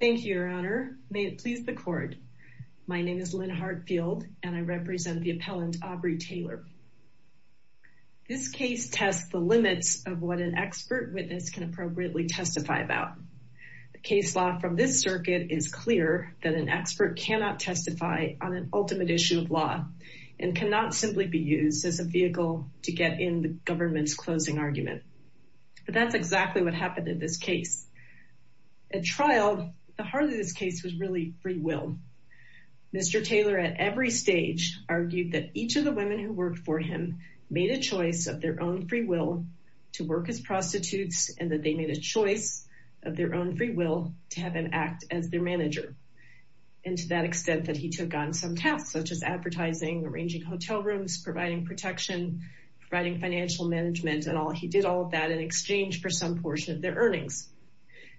Thank you your honor. May it please the court. My name is Lynn Hartfield and I represent the appellant Aubrey Taylor. This case tests the limits of what an expert witness can appropriately testify about. The case law from this circuit is clear that an expert cannot testify on an ultimate issue of law and cannot simply be used as a vehicle to get in the government's closing argument. But that's exactly what happened in this case. At trial the heart of this case was really free will. Mr. Taylor at every stage argued that each of the women who worked for him made a choice of their own free will to work as prostitutes and that they made a choice of their own free will to have him act as their manager. And to that extent that he took on some tasks such as advertising, arranging hotel rooms, providing protection, providing financial management and all he did all of that in exchange for some portion of their earnings.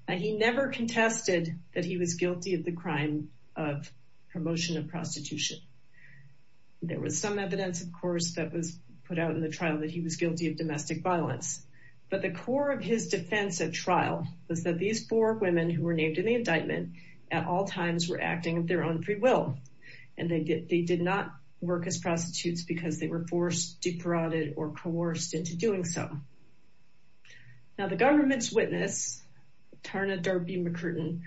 And he never contested that he was guilty of the crime of promotion of prostitution. There was some evidence of course that was put out in the trial that he was guilty of domestic violence. But the core of his defense at trial was that these four women who were named in the indictment at all times were acting of their own free will. And they did not work as prostitutes because they were forced, defrauded or coerced into doing so. Now the government's witness Tarna Darby-McCurtain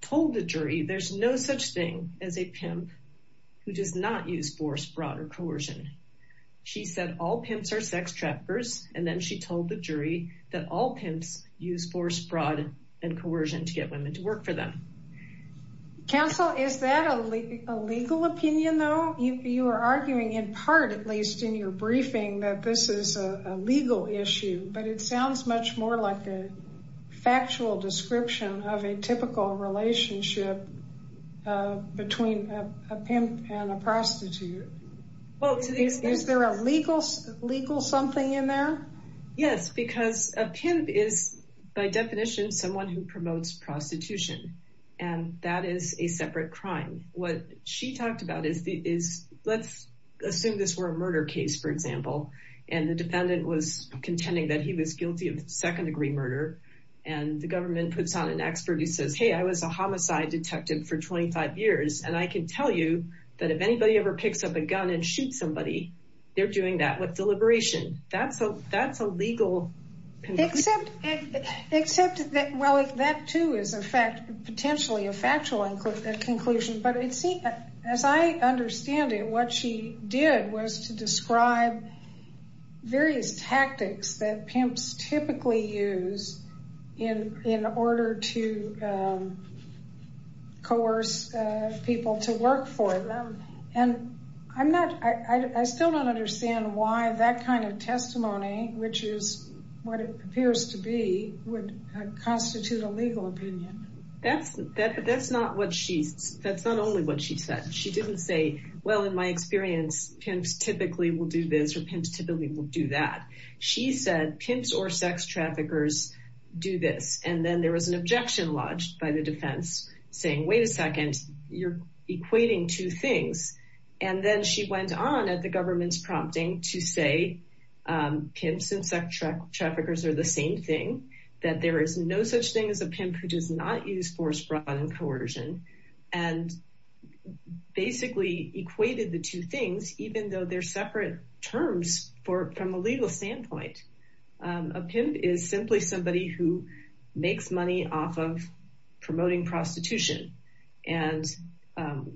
told the jury there's no such thing as a pimp who does not use force, fraud or coercion. She said all pimps are sex traffickers and then she told the jury that all pimps use force, fraud and coercion to get women to work for them. Counsel is that a legal opinion though? You are arguing in part at least in your briefing that this is a legal issue but it sounds much more like a factual description of a typical relationship between a pimp and a prostitute. Well is there a legal something in there? Yes because a pimp is by definition someone who promotes prostitution and that is a murder case for example and the defendant was contending that he was guilty of second-degree murder and the government puts on an expert who says hey I was a homicide detective for 25 years and I can tell you that if anybody ever picks up a gun and shoots somebody they're doing that with deliberation. That's a legal... Except that well that too is a fact potentially a factual conclusion but it seemed as I understand it what she did was to describe various tactics that pimps typically use in in order to coerce people to work for them and I'm not I still don't understand why that kind of testimony which is what it appears to be would constitute a legal opinion. That's not what she's that's not only what she said she didn't say well in my experience pimps typically will do this or pimps typically will do that. She said pimps or sex traffickers do this and then there was an objection lodged by the defense saying wait a second you're equating two things and then she went on at the government's prompting to say pimps and sex traffickers are the same thing that there is no such thing as a pimp who does not use force, fraud, and coercion and basically equated the two things even though they're separate terms for from a legal standpoint. A pimp is simply somebody who makes money off of promoting prostitution and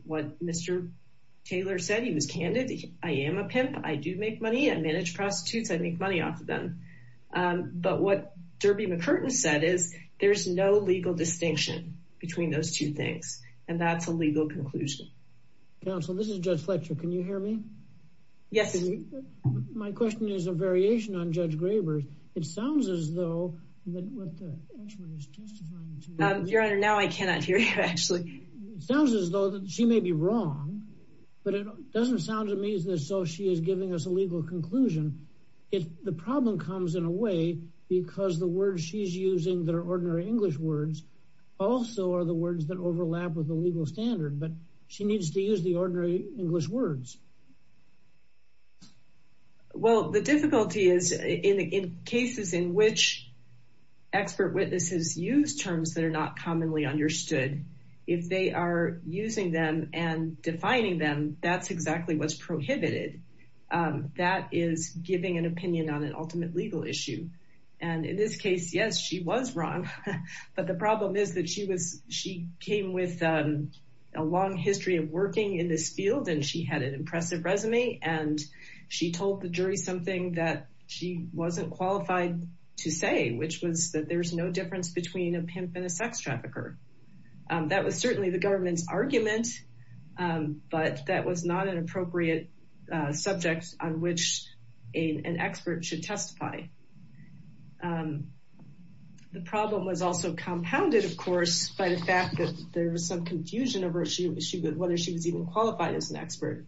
what Mr. Taylor said he was candid I am a pimp I do make money I manage prostitutes I make money off of them but what Derby McCurtain said is there's no legal distinction between those two things and that's a legal conclusion. Counsel this is Judge Fletcher can you hear me? Yes. My question is a variation on Judge Graber's it sounds as though your honor now I cannot hear you actually it sounds as though that she may be wrong but it doesn't sound to me as though she is giving us a legal conclusion if the problem comes in a way because the word she's using their ordinary English words also are the words that overlap with the legal standard but she needs to use the ordinary English words. Well the difficulty is in cases in which expert witnesses use terms that are not commonly understood if they are using them and defining them that's exactly what's prohibited that is giving an opinion on an ultimate legal issue and in this case yes she was wrong but the problem is that she was she came with a long history of working in this field and she had an impressive resume and she told the jury something that she wasn't qualified to say which was that there's no difference between a pimp and a sex trafficker. That was certainly the government's argument but that was not an appropriate subject on which an expert should testify. The problem was also compounded of course by the fact that there was some confusion over whether she was even qualified as an expert.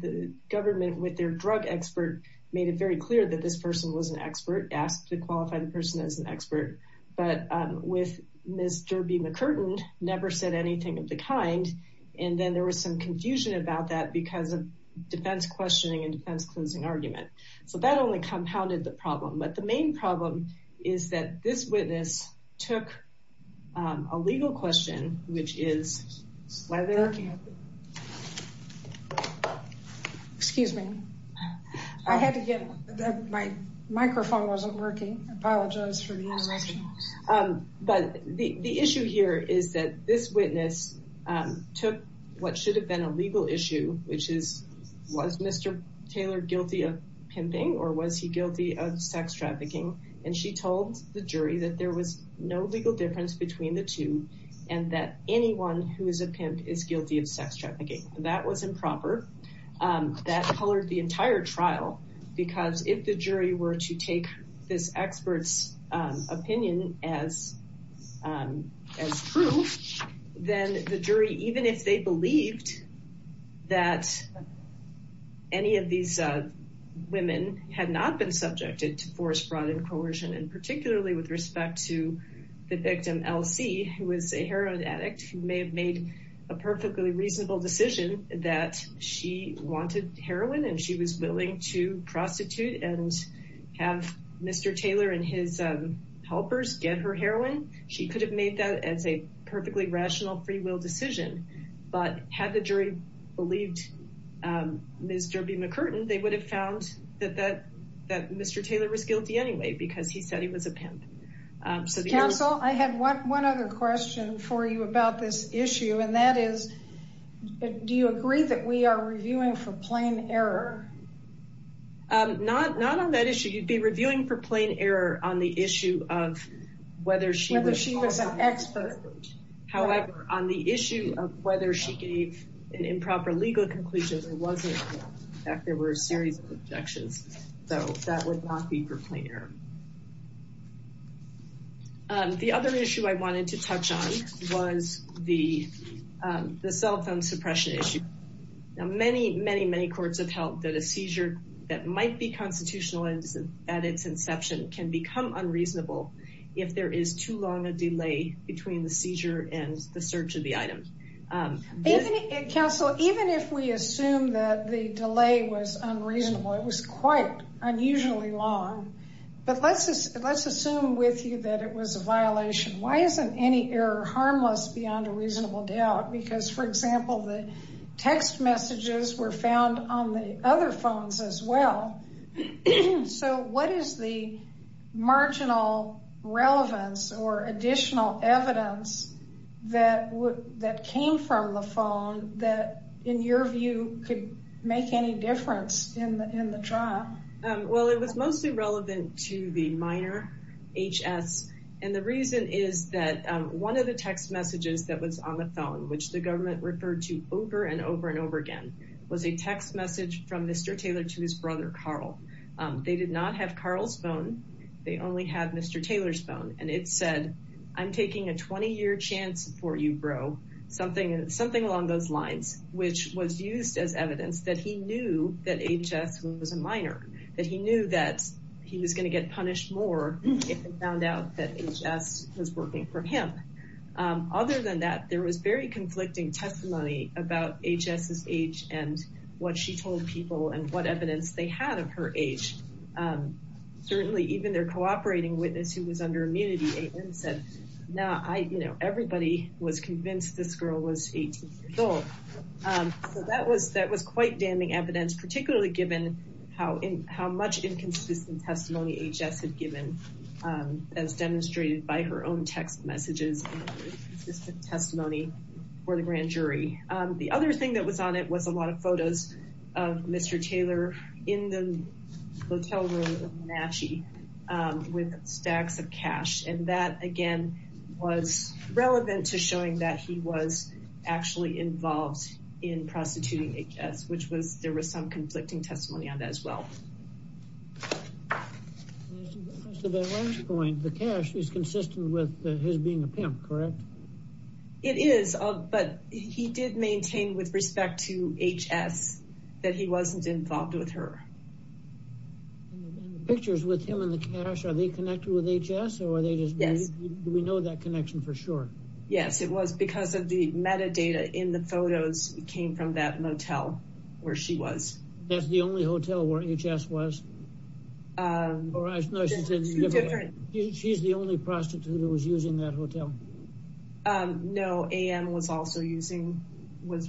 The government with their drug expert made it very clear that this person was an expert asked to qualify the person as an expert but with Mr. B. McCurtain never said anything of the kind and then there was some confusion about that because of defense questioning and defense closing argument. So that only compounded the problem but the main problem is that this witness took a legal question which is whether excuse me I had to get my microphone wasn't working I apologize for the interruption but the issue here is that this witness took what should have been a legal issue which is was Mr. Taylor guilty of pimping or was he guilty of sex trafficking and she told the jury that there was no legal difference between the two and that anyone who is a pimp is guilty of sex trafficking. That was improper. That colored the entire trial because if the jury were to take this experts opinion as proof then the jury even if they believed that any of these women had not been subjected to forced fraud and coercion and particularly with respect to the victim LC who was a heroin addict who may have made a perfectly reasonable decision that she wanted heroin and she was willing to prostitute and have Mr. Halpers get her heroin she could have made that as a perfectly rational free will decision but had the jury believed Ms. Derby McCurton they would have found that that that Mr. Taylor was guilty anyway because he said he was a pimp. Counsel I have one other question for you about this issue and that is do you agree that we are reviewing for plain error? Not on that issue you'd be on the issue of whether she was an expert however on the issue of whether she gave an improper legal conclusion there were a series of objections so that would not be for plain error. The other issue I wanted to touch on was the the cell phone suppression issue. Now many many many courts have held that a seizure that become unreasonable if there is too long a delay between the seizure and the search of the item. Counsel even if we assume that the delay was unreasonable it was quite unusually long but let's just let's assume with you that it was a violation why isn't any error harmless beyond a reasonable doubt because for example the text messages were found on the other phones as well so what is the marginal relevance or additional evidence that would that came from the phone that in your view could make any difference in the trial? Well it was mostly relevant to the minor HS and the reason is that one of the text messages that was on the phone which the government referred to over and over and over again was a text message from Mr. Taylor to his brother Carl. They did not have Carl's phone they only have Mr. Taylor's phone and it said I'm taking a 20-year chance for you bro something something along those lines which was used as evidence that he knew that HS was a minor that he knew that he was going to get punished more if he found out that HS was working for him. Other than that there was very conflicting testimony about HS's age and what she told people and what evidence they had of her age. Certainly even their cooperating witness who was under immunity said now I you know everybody was convinced this girl was 18 years old. So that was that was quite damning evidence particularly given how in how much inconsistent testimony HS had given as demonstrated by her own text messages testimony for the grand jury. The other thing that was on it was a lot of photos of Mr. Taylor in the hotel room of Menachi with stacks of cash and that again was relevant to showing that he was actually involved in prostituting HS which was there was some conflicting testimony on that as well. The cash is consistent with his being a pimp correct? It is but he did maintain with respect to HS that he wasn't involved with her. The pictures with him and the cash are they connected with HS? Yes. Do we know that connection for sure? Yes it was because of the metadata in the photos came from that motel where she was. That's the only hotel where HS was? She's the only prostitute who was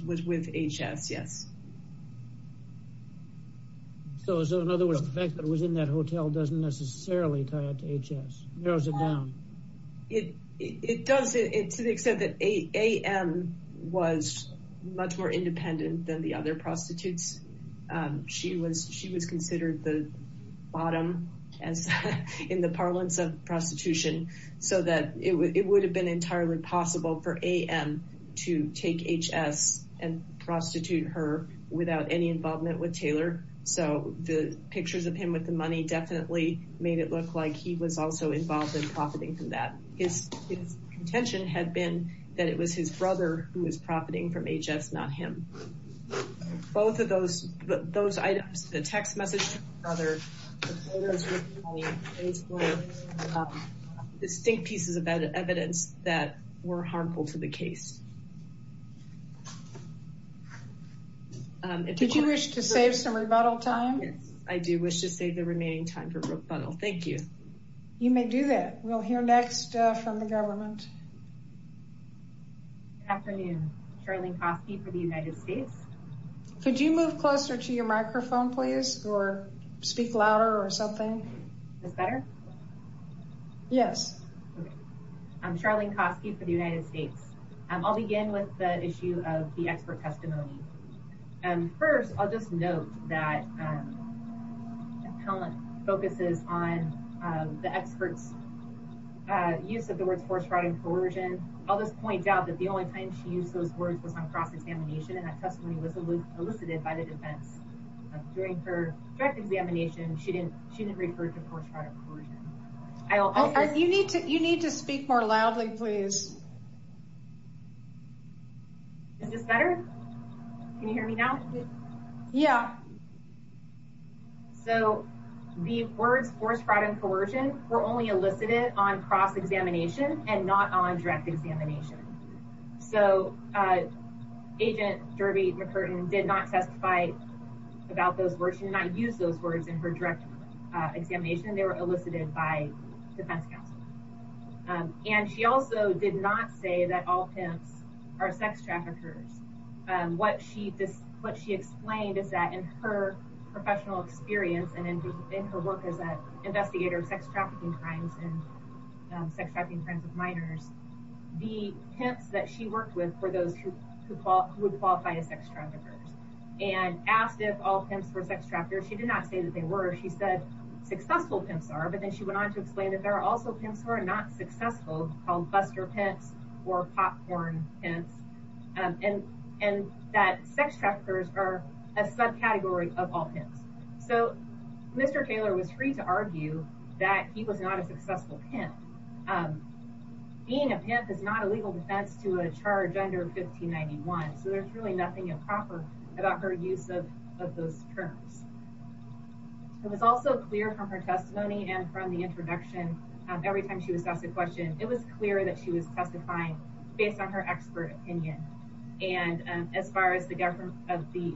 with HS yes. So in other words the fact that it was in that hotel doesn't necessarily tie it to HS? It does it to the extent that AM was much more independent than the other prostitutes. She was she was considered the bottom as in the parlance of prostitution so that it would have been entirely possible for prostitute her without any involvement with Taylor. So the pictures of him with the money definitely made it look like he was also involved in profiting from that. His contention had been that it was his brother who was profiting from HS not him. Both of those those items the text message to his brother, the photos with the money, distinct pieces of evidence that were harmful to the case. Did you wish to save some rebuttal time? Yes I do wish to save the remaining time for rebuttal. Thank you. You may do that. We'll hear next from the government. Afternoon, Charlene Coskey for the United States. Could you move closer to your Yes. I'm Charlene Coskey for the United States. I'll begin with the issue of the expert testimony and first I'll just note that talent focuses on the experts use of the words force, fraud, and coercion. I'll just point out that the only time she used those words was on cross-examination and that testimony was elicited by the defense. During her direct examination she didn't she didn't refer to force, fraud, and coercion. You need to you need to speak more loudly please. Is this better? Can you hear me now? Yeah. So the words force, fraud, and coercion were only elicited on cross-examination and not on direct examination. So Agent Jervie McCurtain did not testify about those words. She did not use those words in her direct examination. They were elicited by defense counsel. And she also did not say that all pimps are sex traffickers. What she explained is that in her professional experience and in her work as an investigator of sex trafficking crimes and sex trafficking crimes of minors, the pimps that she worked with were those who would qualify as sex traffickers and asked if all pimps were sex traffickers. She did not say that they were. She said successful pimps are but then she went on to explain that there are also pimps who are not successful called buster pimps or popcorn pimps and and that sex traffickers are a subcategory of all pimps. So Mr. Kaler was free to argue that he was not a successful pimp. Being a pimp is not a legal defense to a charge under 1591. So there's really nothing improper about her use of of those terms. It was also clear from her testimony and from the introduction every time she was asked a question, it was clear that she was testifying based on her expert opinion. And as far as the government of the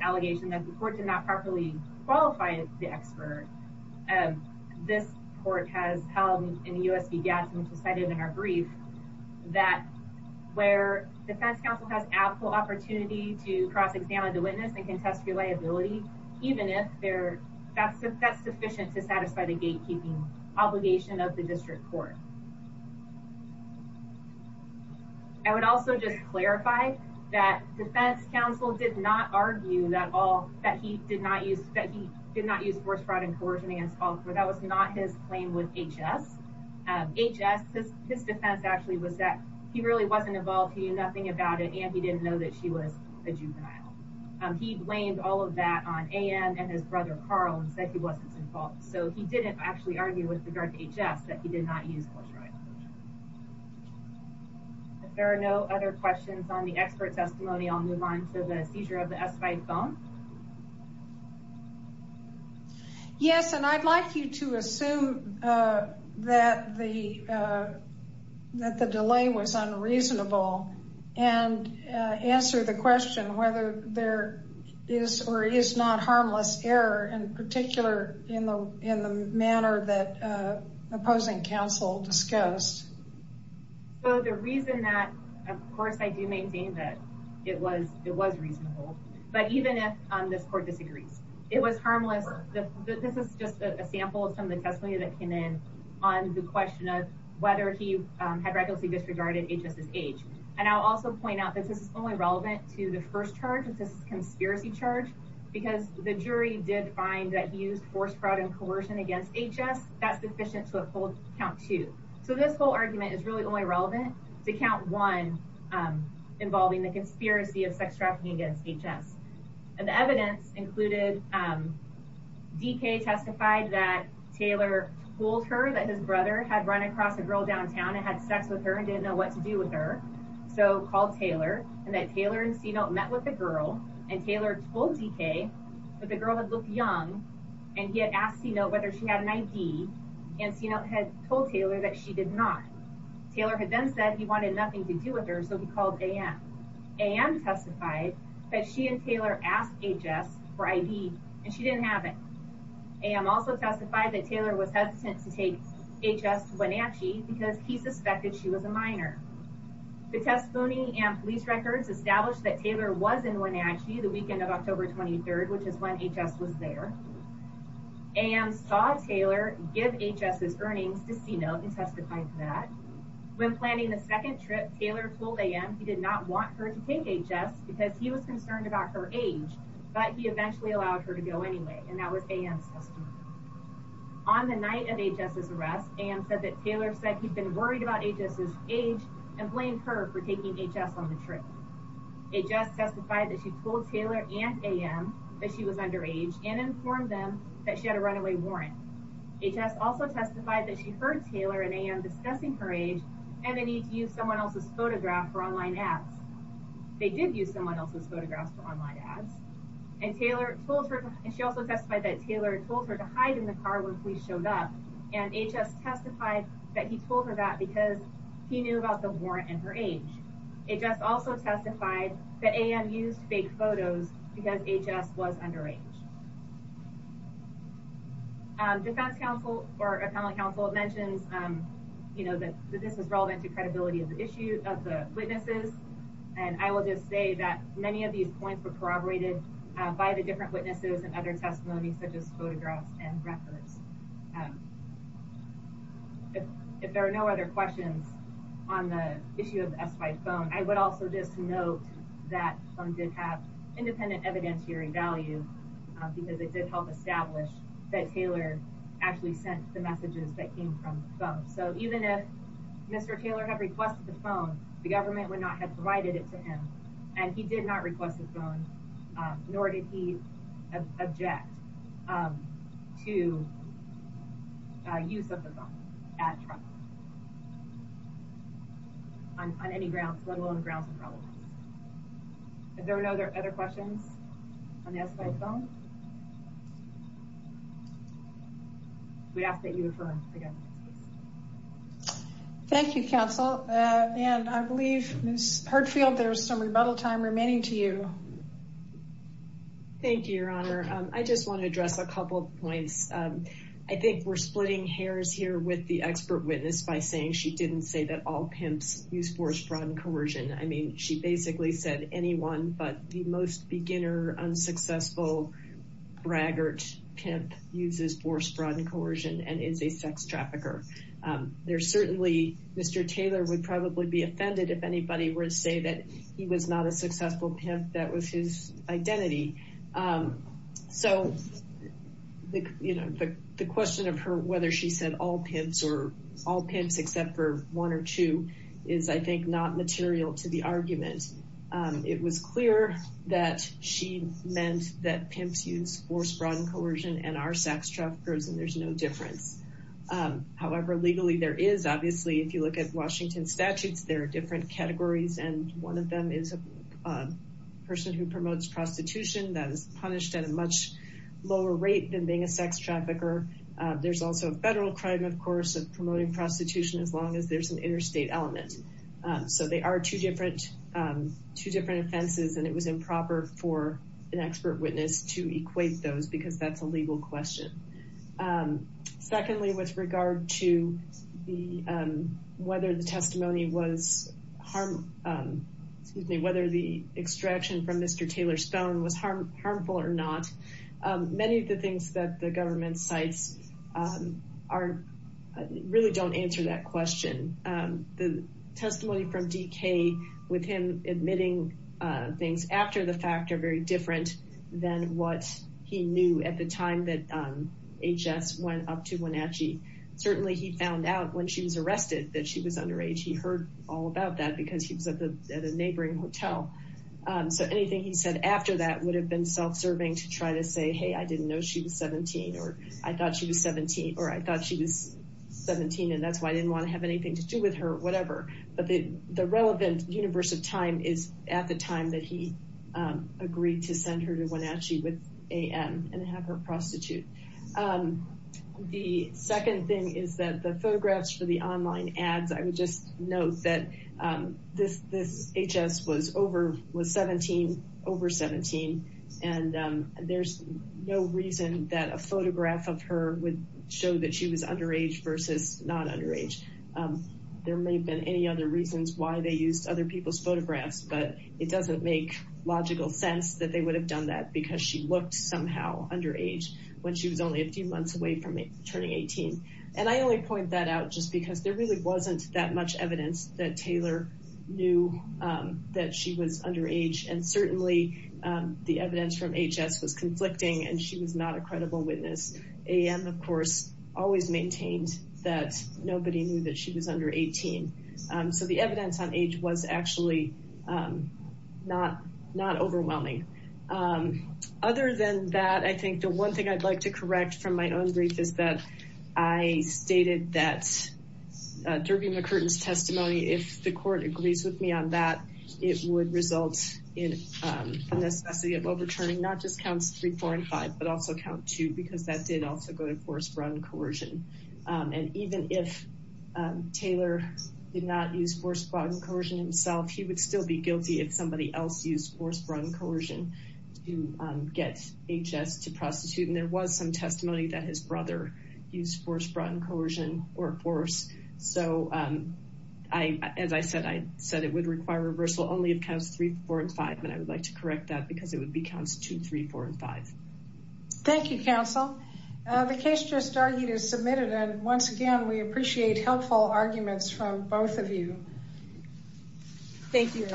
allegation that the court did not properly qualify the expert, this court has held in the U. S. which was cited in our brief that where defense counsel has ample opportunity to cross examine the witness and contest your liability, even if they're that's that's sufficient to satisfy the gatekeeping obligation of the district court. I would also just clarify that defense counsel did not argue that all that he did not use that he did not use force, fraud and coercion against all four. That was not his claim with H. S. H. S. His defense actually was that he really wasn't involved. He knew nothing about it, and he didn't know that she was a juvenile. He blamed all of that on A. N. and his brother, Carl, and said he wasn't involved. So he didn't actually argue with regard to H. S. That he did not use. If there are no other questions on the expert testimony, I'll move on to the seizure of the S. Five phone. Yes. And I'd like you to assume, uh, that the, uh, that the delay was unreasonable and answer the question whether there is or is not harmless error in particular in the in the manner that, uh, opposing counsel discussed. So the reason that, of course, I do maintain that it was it was But even if this court disagrees, it was harmless. This is just a sample of some of the testimony that came in on the question of whether he had regularly disregarded H. S. S. H. And I'll also point out that this is only relevant to the first charge of this conspiracy charge because the jury did find that he used force, fraud and coercion against H. S. That's deficient to uphold count to. So this whole argument is really only relevant to count one, um, involving the conspiracy of sex trafficking against H. S. And the evidence included, um, D. K. Testified that Taylor told her that his brother had run across a girl downtown and had sex with her and didn't know what to do with her. So called Taylor and that Taylor and C note met with the girl and Taylor told D. K. But the girl had looked young and he had asked, you know, whether she had an I. D. And C. Note had told Taylor that she did not. Taylor had then said he wanted nothing to do with her. So he called A. M. A. M. Testified that she and Taylor asked H. S. For I. D. And she didn't have it. I am also testified that Taylor was hesitant to take H. S. Wenatchee because he suspected she was a minor. The testimony and police records established that Taylor was in Wenatchee the weekend of October 23rd, which is when H. S. Was there and saw Taylor give H. S. S. Names to C. Note and testified that when planning the second trip, Taylor told A. M. He did not want her to take H. S. Because he was concerned about her age, but he eventually allowed her to go anyway. And that was A. M. On the night of H. S. Is arrest and said that Taylor said he'd been worried about H. S. Is age and blamed her for taking H. S. On the trip. It just testified that she told Taylor and A. M. That she was underage and informed them that she had a runaway warrant. H. S. Also testified that she heard Taylor and A. M. Discussing her age and they need to use someone else's photograph for online apps. They did use someone else's photographs for online ads, and Taylor told her, and she also testified that Taylor told her to hide in the car when we showed up, and H. S. Testified that he told her that because he knew about the warrant and her age. It just also testified that A. M. Used fake photos because H. S. Was underage. Defense counsel or appellate counsel mentions, um, you know that this was relevant to credibility of the issue of the witnesses. And I will just say that many of these points were corroborated by the different witnesses and other testimonies, such as photographs and records. If there are no other questions on the issue of the S. Y. Phone, I would also just note that some did have independent evidence hearing value because it did help establish that Taylor actually sent the messages that came from phone. So even if Mr Taylor have requested the phone, the government would not have provided it to him, and he did not request his phone, nor did he object, um, to use of the phone at on any grounds, let alone grounds of problems. If there are no other other questions on the S. Y. Phone, we ask that you affirm again. Thank you, Counsel. And I believe Miss Hartfield, there's some rebuttal time remaining to you. Thank you, Your Honor. I just want to address a couple of points. I think we're splitting hairs here with the expert witness by saying she didn't say that all pimps use force, fraud, and coercion. I mean, she basically said anyone, but the most beginner, unsuccessful, braggart pimp uses force, fraud, and coercion and is a sex trafficker. There's certainly, Mr. Taylor would probably be offended if anybody were to say that he was not a successful pimp, that was his identity. So, you know, the question of her, whether she said all pimps or all pimps, except for one or two, is, I think, not material to the argument. It was clear that she meant that pimps use force, fraud, and coercion and are sex traffickers, and there's no difference. However, legally, there is. Obviously, if you look at Washington statutes, there are different categories, and one of them is a person who promotes prostitution that is punished at a much lower rate than being a sex trafficker. There's also a federal crime, of course, of promoting prostitution as long as there's an interstate element. So, they are two different offenses, and it was improper for an expert witness to equate those because that's a legal question. Secondly, with regard to whether the testimony was, excuse me, whether the testimony from Mr. Taylor's phone was harmful or not, many of the things that the government cites really don't answer that question. The testimony from DK, with him admitting things after the fact, are very different than what he knew at the time that HS went up to Wenatchee. Certainly, he found out when she was arrested that she was underage. He heard all about that because he was at a he said after that would have been self-serving to try to say, hey, I didn't know she was 17, or I thought she was 17, or I thought she was 17, and that's why I didn't want to have anything to do with her, whatever. But the relevant universe of time is at the time that he agreed to send her to Wenatchee with AM and have her prostitute. The second thing is that the photographs for the online ads, I would just note that this HS was 17, over 17, and there's no reason that a photograph of her would show that she was underage versus not underage. There may have been any other reasons why they used other people's photographs, but it doesn't make logical sense that they would have done that because she looked somehow underage when she was only a few months away from turning 18. And I only point that out just because there really wasn't that much evidence that Taylor knew that she was underage. And certainly, the evidence from HS was conflicting, and she was not a credible witness. AM, of course, always maintained that nobody knew that she was under 18. So the evidence on age was actually not overwhelming. Other than that, I think the one thing I'd like to correct from my own brief is that I stated that Derby McCurtain's testimony, if the court agrees with me on that, it would result in a necessity of overturning not just counts three, four, and five, but also count two because that did also go to forced brought in coercion. And even if Taylor did not use forced brought in coercion himself, he would still be guilty if somebody else used forced brought in coercion to get HS to prostitute. And there was some testimony that his brother used forced brought in coercion or force. So I, as I said, I said it would require reversal only if counts three, four, and five. And I would like to correct that because it would be counts two, three, four, and five. Thank you, counsel. The case just argued is submitted. And once again, we appreciate helpful arguments from both of you. Thank you.